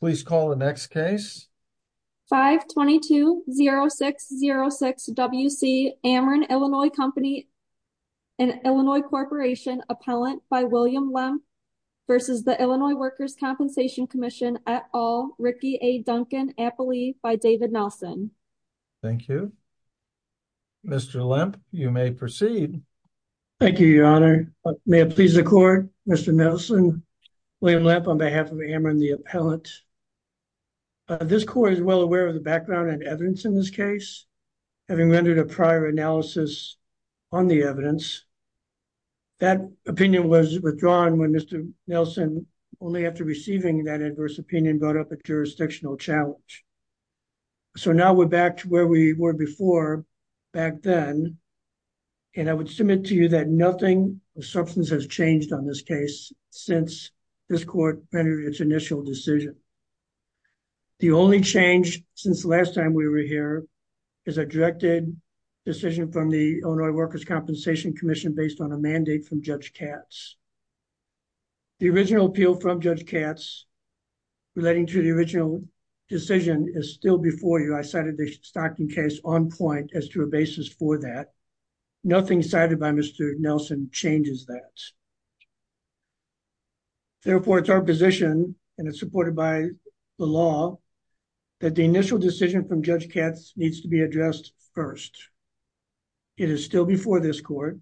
522-0606 W.C. Amron, Illinois Co. v. Illinois Workers' Compensation Comm'n et al., Ricky A. Duncan, Appley v. David Nelson This court is well aware of the background and evidence in this case, having rendered a prior analysis on the evidence. That opinion was withdrawn when Mr. Nelson, only after receiving that adverse opinion, brought up a jurisdictional challenge. So now we're back to where we were before, back then, and I would submit to you that nothing has changed on this case since this court rendered its initial decision. The only change since the last time we were here is a directed decision from the Illinois Workers' Compensation Commission based on a mandate from Judge Katz. The original appeal from Judge Katz relating to the original decision is still before you. I cited the Stockton case on point as to a basis for that. Nothing cited by Mr. Nelson changes that. Therefore, it's our position, and it's supported by the law, that the initial decision from Judge Katz needs to be addressed first. It is still before this court.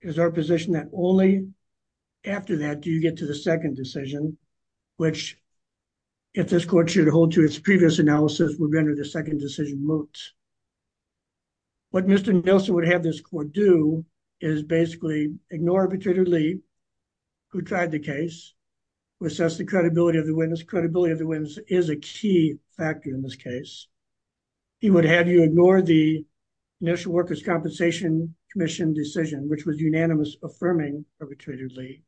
It is our position that only after that do you get to the second decision, which, if this court should hold to its previous analysis, would render the second decision moot. What Mr. Nelson would have this court do is basically ignore Arbitrator Lee, who tried the case, who assessed the credibility of the witness. Credibility of the witness is a key factor in this case. He would have you ignore the initial Workers' Compensation Commission decision, which was unanimous, affirming Arbitrator Lee.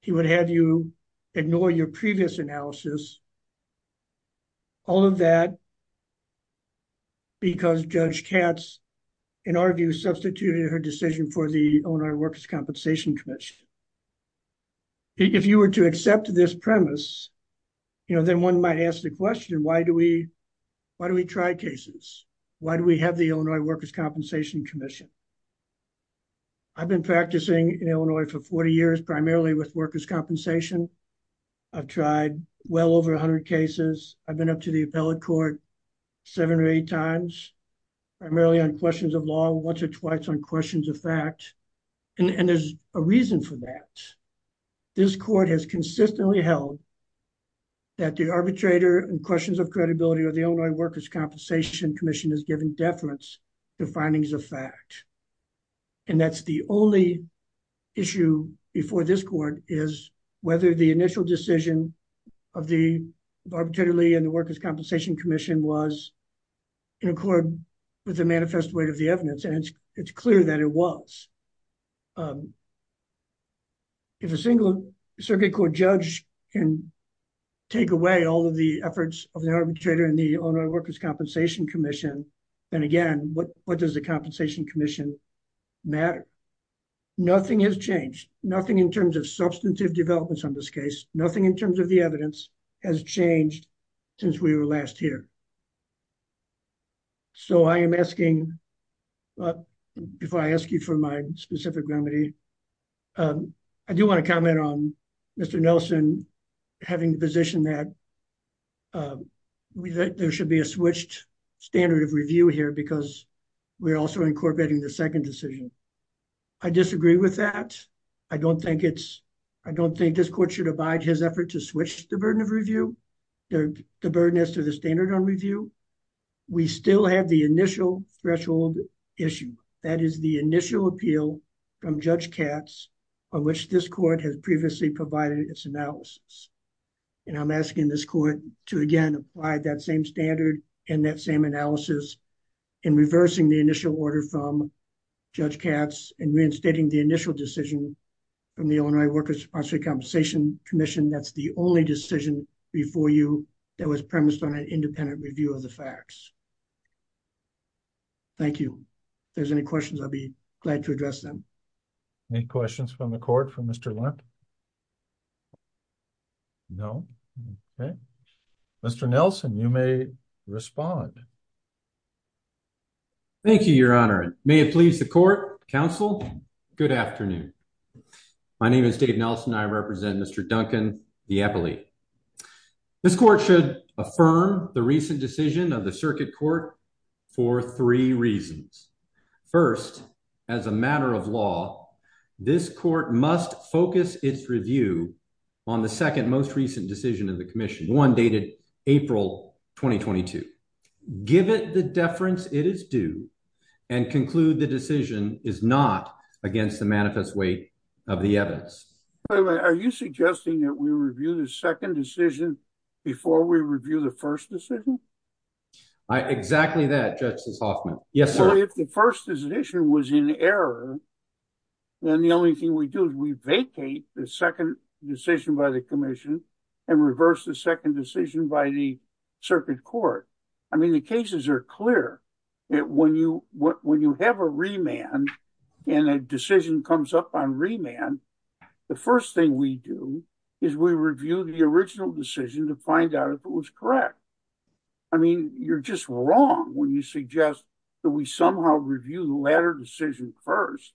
He would have you ignore your previous analysis, all of that because Judge Katz, in our view, substituted her decision for the Illinois Workers' Compensation Commission. If you were to accept this premise, then one might ask the question, why do we try cases? Why do we have the Illinois Workers' Compensation Commission? I've been practicing in Illinois for 40 years, primarily with workers' compensation. I've tried well over 100 cases. I've been up to the appellate court seven or eight times, primarily on questions of law, once or twice on questions of fact, and there's a reason for that. This court has consistently held that the arbitrator and questions of credibility of the Illinois Workers' Compensation Commission has given deference to findings of fact. That's the only issue before this court is whether the initial decision of the Arbitrator Lee and the Workers' Compensation Commission was in accord with the manifest weight of the evidence, and it's clear that it was. If a single circuit court judge can take away all of the efforts of the arbitrator and the Illinois Workers' Compensation Commission, then again, what does the Compensation Commission matter? Nothing has changed, nothing in terms of substantive developments on this case, nothing in terms of the evidence has changed since we were last here. So I am asking, before I ask you for my specific remedy, I do want to comment on Mr. Nelson having the position that there should be a switched standard of review here because we're also incorporating the second decision. I disagree with that. I don't think it's, I don't think this court should abide his effort to switch the burden of review, the burden as to the standard on review. We still have the initial threshold issue, that is the initial appeal from Judge Katz on which this court has previously provided its same analysis in reversing the initial order from Judge Katz and reinstating the initial decision from the Illinois Workers' Compensation Commission. That's the only decision before you that was premised on an independent review of the facts. Thank you. If there's any questions, I'll be glad to address them. Any questions from the court for Mr. Lent? No? Okay. Mr. Nelson, you may respond. Thank you, Your Honor. May it please the court, counsel, good afternoon. My name is Dave Nelson, I represent Mr. Duncan Dieppoli. This court should affirm the recent decision of the circuit court for three reasons. First, as a matter of law, this court must focus its review on the second most recent decision of the commission, one dated April 2022. Give it the deference it is due and conclude the decision is not against the manifest weight of the evidence. Are you suggesting that we review the second decision before we review the first decision? I exactly that, Justice Hoffman. Yes, sir. If the first decision was in error, then the only thing we do is we vacate the second decision by the commission and reverse the second decision by the circuit court. I mean, the cases are clear. When you have a remand and a decision comes up on remand, the first thing we do is we review the original decision to find out if it was correct. I mean, you're just wrong when you suggest that we somehow review the latter decision first.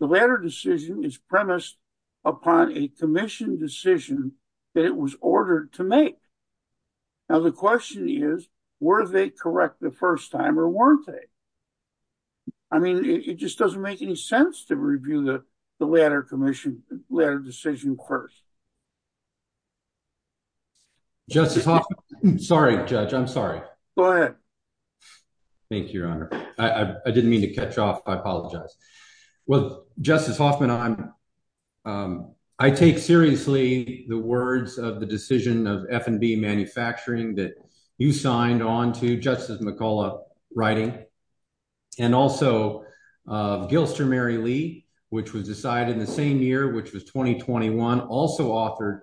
The latter decision is premised upon a commission decision that it was ordered to make. Now, the question is, were they correct the first time or weren't they? I mean, it just doesn't make any sense to review the latter decision first. Justice Hoffman, I'm sorry, Judge. I'm sorry. Go ahead. Thank you, Your Honor. I didn't mean to catch off. I apologize. Well, Justice Hoffman, I take seriously the words of the decision of F&B Manufacturing that you signed on to Justice McCullough writing and also of Gilster Mary Lee, which was decided in the same year, which was 2021, also authored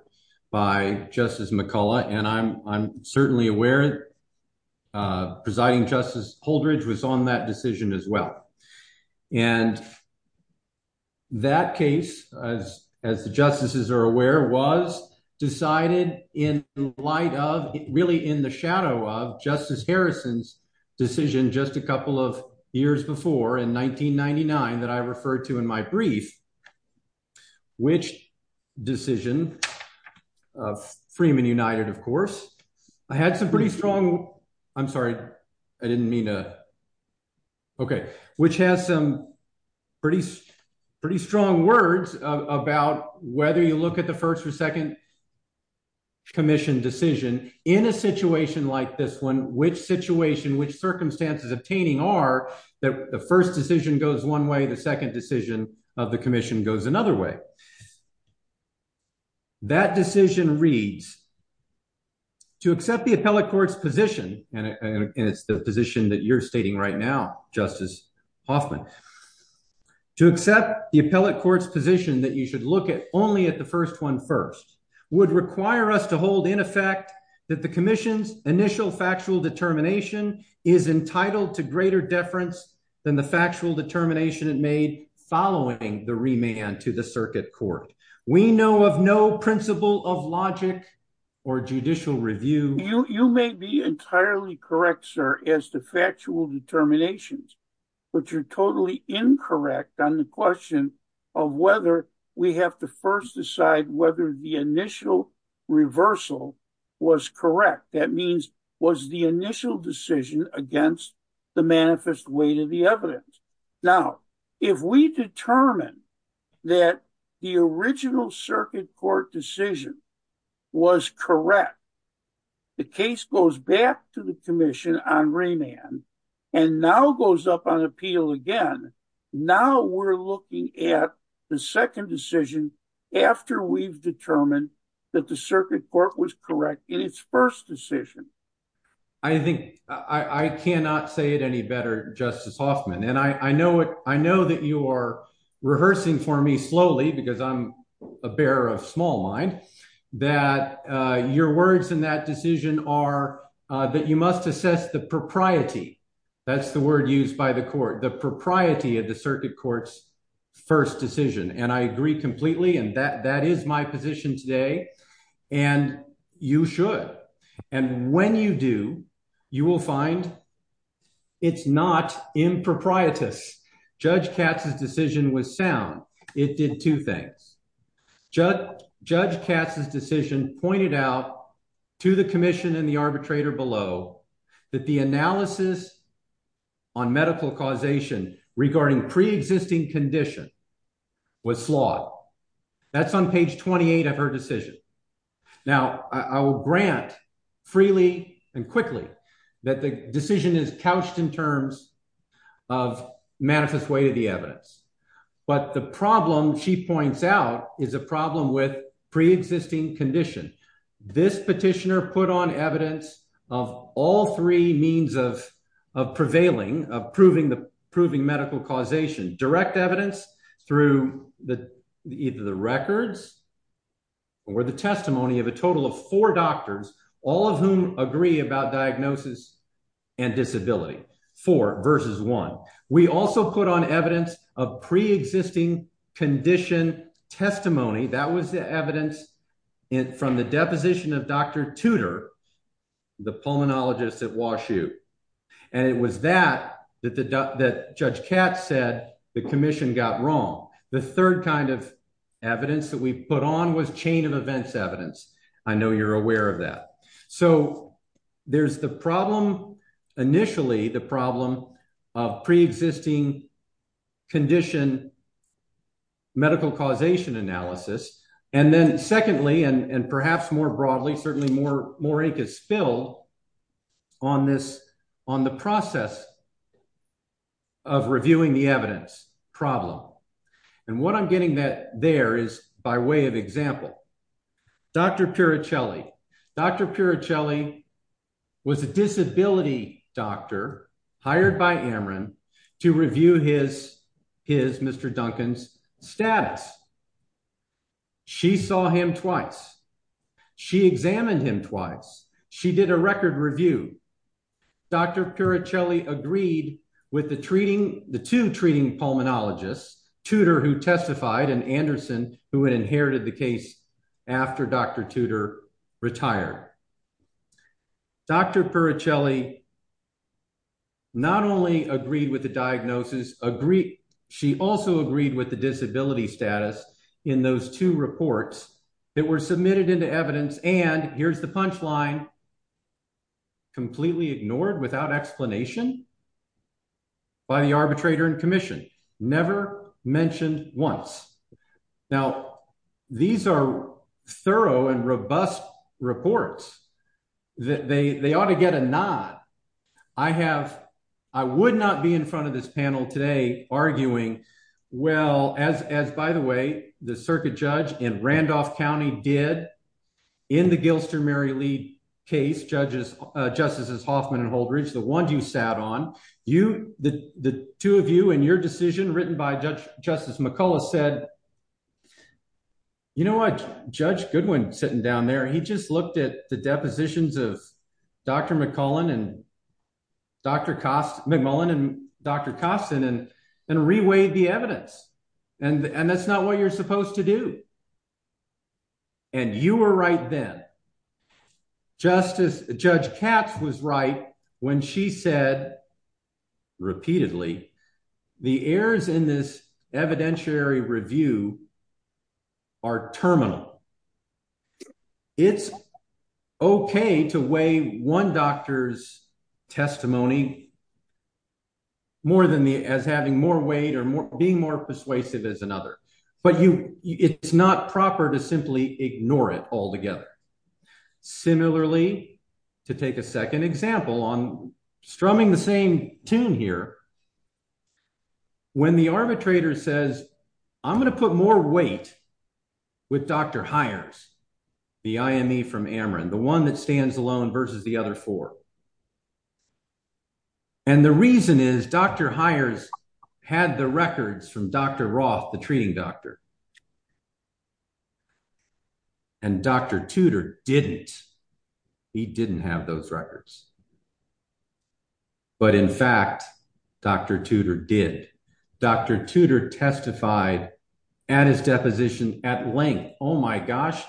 by Justice McCullough. I'm certainly aware that Presiding Justice Holdredge was on that decision as well. That case, as the justices are aware, was decided in the light of, really in the shadow of, my brief, which decision of Freeman United, of course, I had some pretty strong, I'm sorry, I didn't mean to. Okay. Which has some pretty strong words about whether you look at the first or second commission decision in a situation like this one, which situation, which circumstances obtaining are that the first decision goes one way, the second decision of the commission goes another way. That decision reads, to accept the appellate court's position, and it's the position that you're stating right now, Justice Hoffman, to accept the appellate court's position that you should look at only at the first one first would require us to hold in effect that the commission's initial factual determination is entitled to greater deference than the factual determination it made following the remand to the circuit court. We know of no principle of logic or judicial review. You may be entirely correct, sir, as to factual determinations, but you're totally incorrect on the question of whether we have to first decide whether the initial reversal was correct. That means was the initial decision against the manifest weight of the evidence. Now, if we determine that the original circuit court decision was correct, the case goes back to the commission on remand and now goes up on appeal again. Now we're looking at the second decision after we've determined that the circuit court was correct in its first decision. I think, I cannot say it any better, Justice Hoffman, and I know it, I know that you are rehearsing for me slowly because I'm a bearer of small mind, that your words in that decision are that you must assess the propriety, that's the word used by the court, the propriety of the circuit court's first decision. And I agree completely and that is my position today, and you should. And when you do, you will find it's not improprietous. Judge Katz's decision was sound. It did two things. Judge Katz's decision pointed out to the commission and the arbitrator below that the analysis on medical causation regarding pre-existing condition was flawed. That's on page 28 of her decision. Now, I will grant freely and quickly that the decision is couched in terms of manifest weight of the evidence, but the problem she points out is a problem with pre-existing condition. This petitioner put on evidence of all three means of prevailing, of proving medical causation, direct evidence through either the records or the testimony of a total of four doctors, all of whom agree about diagnosis and disability, four versus one. We also put on evidence of pre-existing condition testimony. That was the evidence from the deposition of Dr. Tudor, the pulmonologist at Wash U. And it was that that Judge Katz said the commission got wrong. The third kind of evidence that we put on was chain of events evidence. I know you're aware of that. So there's the problem, initially the problem of pre-existing condition medical causation analysis. And then secondly, and perhaps more broadly, certainly more ink is spilled on this, on the process of reviewing the evidence problem. And what I'm getting that there is by way of example, Dr. Piricelli. Dr. Piricelli was a disability doctor hired by Amron to review his, his Mr. Duncan's status. She saw him twice. She examined him twice. She did a record review. Dr. Piricelli agreed with the treating, the two treating pulmonologists, Tudor who testified and Anderson who had inherited the case after Dr. Tudor retired. Dr. Piricelli not only agreed with the diagnosis, agreed, she also agreed with the disability status in those two reports that were submitted into evidence. And here's the punchline completely ignored without explanation by the arbitrator and commission never mentioned once. Now, these are thorough and robust reports that they, they ought to get a nod. I have, I would not be in front of this panel today arguing well, as, as by the way, the circuit judge in Randolph County did in the Gilster Mary Lee case, judges, justices Hoffman and Holdridge, the ones you sat on you, the two of you and your decision written by judge, justice McCullough said, you know what judge Goodwin sitting down there, he just looked at the depositions of Dr. McCullin and Dr. Cost McMullin and Dr. Costin and, and reweighed the evidence. And, and that's not what you're supposed to do. And you were right then justice judge Katz was right when she said repeatedly, the errors in this evidentiary review are terminal. It's okay to weigh one doctor's testimony more than the, as having more weight or more persuasive as another, but you, it's not proper to simply ignore it altogether. Similarly, to take a second example on strumming the same tune here, when the arbitrator says, I'm going to put more weight with Dr. Hires, the IME from Ameren, the one that stands alone versus the other four. And the reason is Dr. Hires had the records from Dr. Roth, the treating doctor and Dr. Tudor didn't, he didn't have those records, but in fact, Dr. Tudor did Dr. Tudor testified at his deposition at length. Oh my gosh,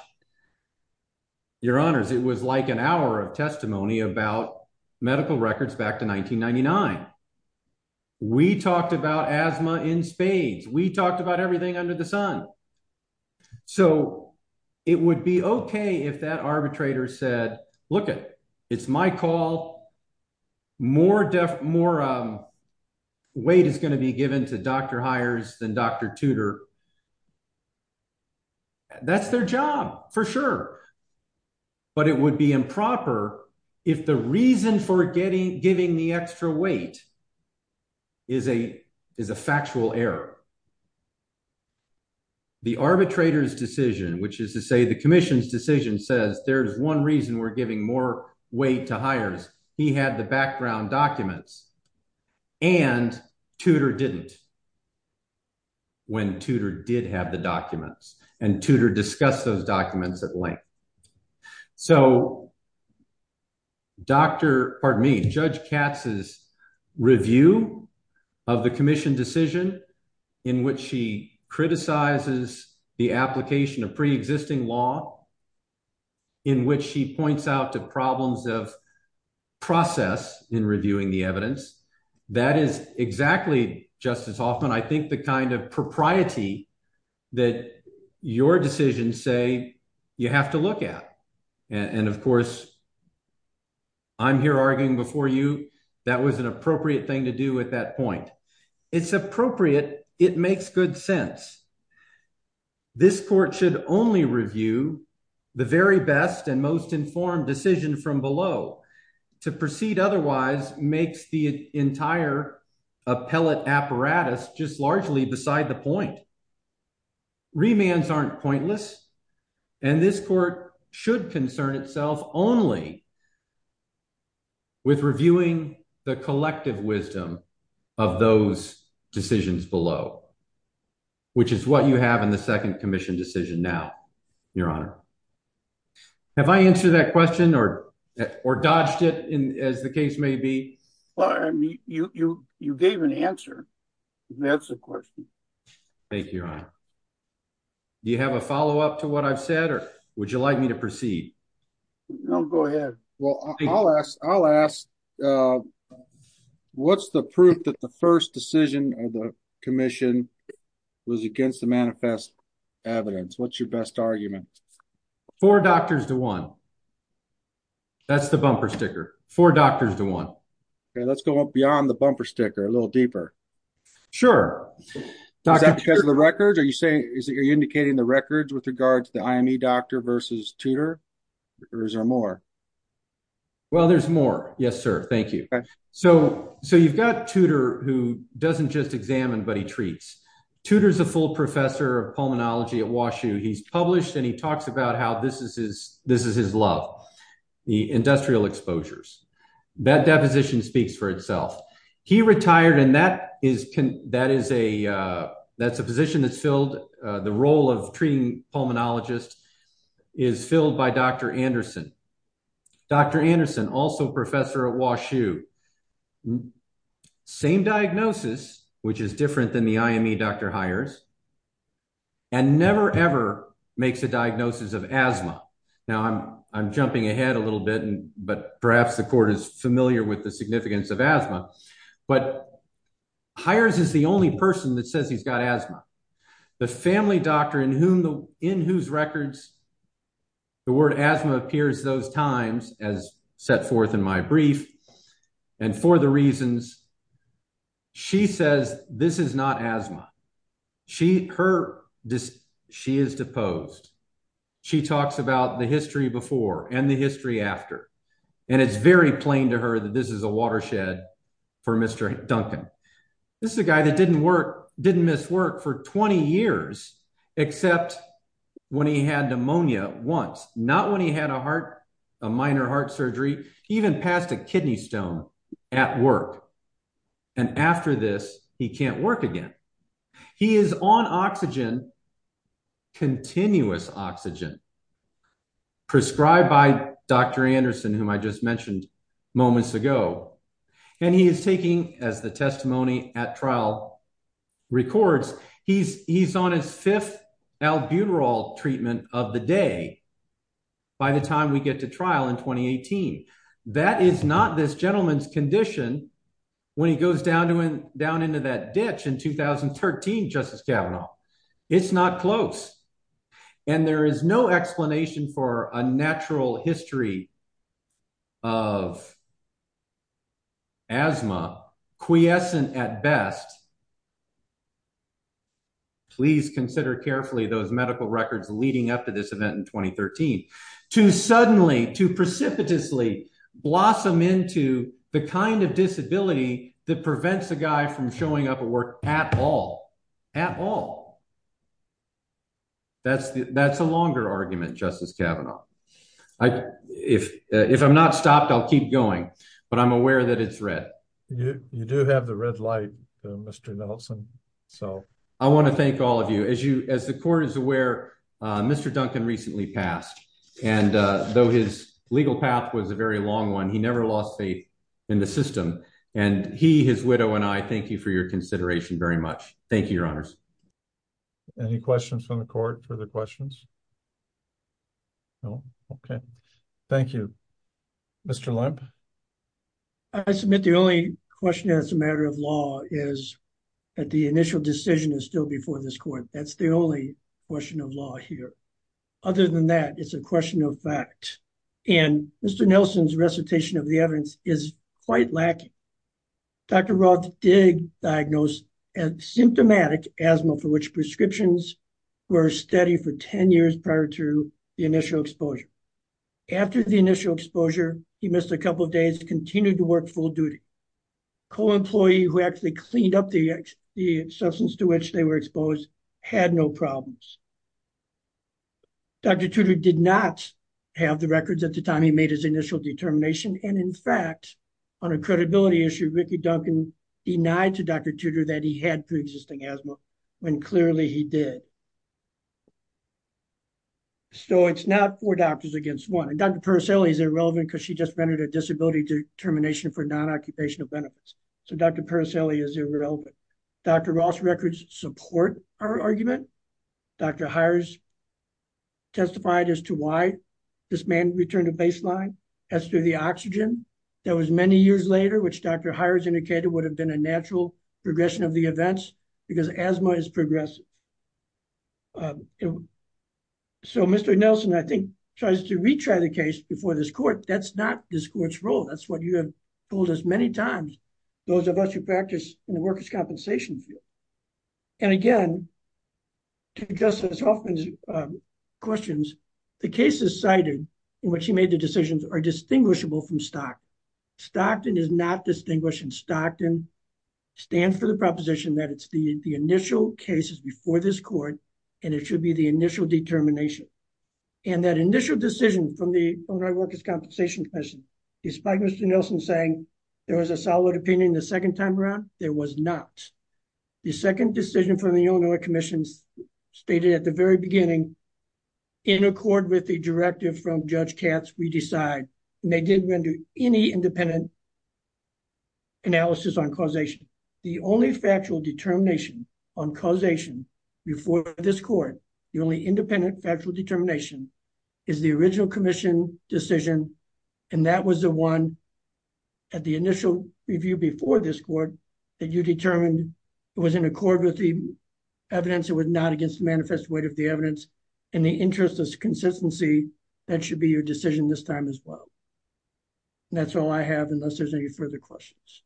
your honors. It was like an hour of testimony about medical records back to 1999. We talked about asthma in spades. We talked about everything under the sun. So it would be okay. If that arbitrator said, look at it's my call more weight is going to be given to Dr. Hires than Dr. Tudor. That's their job for sure. But it would be improper if the reason for getting, giving the extra weight is a, is a factual error. The arbitrator's decision, which is to say the commission's decision says there's one reason we're giving more weight to Hires. He had the documents and Tudor discussed those documents at length. So Dr. pardon me, judge Katz's review of the commission decision in which she criticizes the application of preexisting law in which she points out to problems of process in reviewing the evidence. That is exactly justice Hoffman. I think the kind of propriety that your decisions say you have to look at. And of course I'm here arguing before you, that was an appropriate thing to do at that point. It's appropriate. It makes good sense. This court should only review the very best and most apparatus just largely beside the point. Remands aren't pointless and this court should concern itself only with reviewing the collective wisdom of those decisions below, which is what you have in the second commission decision. Now, your honor, have I answered that question or, or dodged it in as the case may be? Well, you, you, you gave an answer. That's the question. Thank you. Do you have a followup to what I've said or would you like me to proceed? No, go ahead. Well, I'll ask, I'll ask, uh, what's the proof that the first decision of the commission was against the manifest evidence. What's your best argument for doctors to one that's the bumper sticker for doctors to one. Okay. Let's go up beyond the bumper sticker a little deeper. Sure. Is that because of the records? Are you saying, is it, are you indicating the records with regards to the IME doctor versus tutor or is there more? Well, there's more. Yes, sir. Thank you. So, so you've got tutor who doesn't just examine, but he treats tutors, a full professor of pulmonology at WashU. He's published and he talks about how this is his, this is his love, the industrial exposures that deposition speaks for itself. He retired. And that is, can, that is a, uh, that's a position that's filled. Uh, the role of treating pulmonologist is filled by Dr. Anderson, Dr. Anderson, also professor at WashU and same diagnosis, which is different than the IME, Dr. Hires and never ever makes a diagnosis of asthma. Now I'm, I'm jumping ahead a little bit, but perhaps the court is familiar with the significance of asthma, but hires is the only person that says he's got asthma. The family doctor in whom the, in whose records the word asthma appears those times as set forth in my and for the reasons she says, this is not asthma. She, her, she is deposed. She talks about the history before and the history after. And it's very plain to her that this is a watershed for Mr. Duncan. This is a guy that didn't work, didn't miss work for 20 years, except when he had a minor heart surgery, even passed a kidney stone at work. And after this, he can't work again. He is on oxygen, continuous oxygen prescribed by Dr. Anderson, whom I just mentioned moments ago. And he is taking as the testimony at trial records, he's, he's on his fifth albuterol treatment of the day. By the time we get to trial in 2018, that is not this gentleman's condition. When he goes down to him down into that ditch in 2013, justice Kavanaugh, it's not close. And there is no explanation for a natural history of asthma quiescent at best. Please consider carefully those medical records leading up to this event in 2013, to suddenly, to precipitously blossom into the kind of disability that prevents a guy from showing up at work at all, at all. That's the, that's a longer argument, justice Kavanaugh. I, if, if I'm not stopped, I'll keep going, but I'm aware that it's red. You, you do have the red light, Mr. Nelson. So I want to thank all of you as you, as the court is aware, Mr. Duncan recently passed. And though his legal path was a very long one, he never lost faith in the system and he, his widow, and I thank you for your consideration very much. Thank you, your honors. Any questions from the court for the questions? No. Okay. Thank you, Mr. Lemp. I submit the only question as a is that the initial decision is still before this court. That's the only question of law here. Other than that, it's a question of fact. And Mr. Nelson's recitation of the evidence is quite lacking. Dr. Roth did diagnose as symptomatic asthma for which prescriptions were steady for 10 years prior to the initial exposure. After the initial exposure, he missed a couple of days, continued to work full duty. Co-employee who actually cleaned up the, the substance to which they were exposed had no problems. Dr. Tudor did not have the records at the time he made his initial determination. And in fact, on a credibility issue, Ricky Duncan denied to Dr. Tudor that he had pre-existing asthma when clearly he did. So it's not four doctors against one. And Dr. Purcelli is irrelevant because she just rendered a disability determination for non-occupational benefits. So Dr. Purcelli is irrelevant. Dr. Roth's records support our argument. Dr. Hires testified as to why this man returned to baseline as to the oxygen. That was many years later, which Dr. Hires indicated would have been a natural progression of the events because asthma is progressive. So Mr. Nelson, I think, tries to retry the case before this court. That's not this court's role. That's what you have told us many times, those of us who practice in the workers' compensation field. And again, to Justice Hoffman's questions, the cases cited in which he made the decisions are distinguishable from Stockton. Stockton is not distinguished and Stockton stands for the cases before this court and it should be the initial determination. And that initial decision from the Workers' Compensation Commission, despite Mr. Nelson saying there was a solid opinion the second time around, there was not. The second decision from the Illinois Commission stated at the very beginning, in accord with the directive from Judge Katz, we decide. And they didn't render any independent analysis on causation. The only factual determination on causation before this court, the only independent factual determination is the original commission decision. And that was the one at the initial review before this court that you determined it was in accord with the evidence, it was not against the manifest weight of the evidence. In the interest of consistency, that should be your decision this time as well. And that's all I have unless there's any further questions.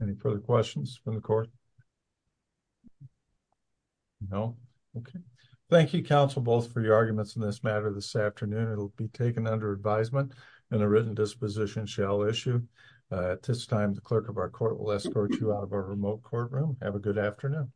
Any further questions from the court? No? Okay. Thank you, counsel, both for your arguments in this matter this afternoon. It'll be taken under advisement and a written disposition shall issue. At this time, the clerk of our court will escort you out of our remote courtroom. Have a good afternoon.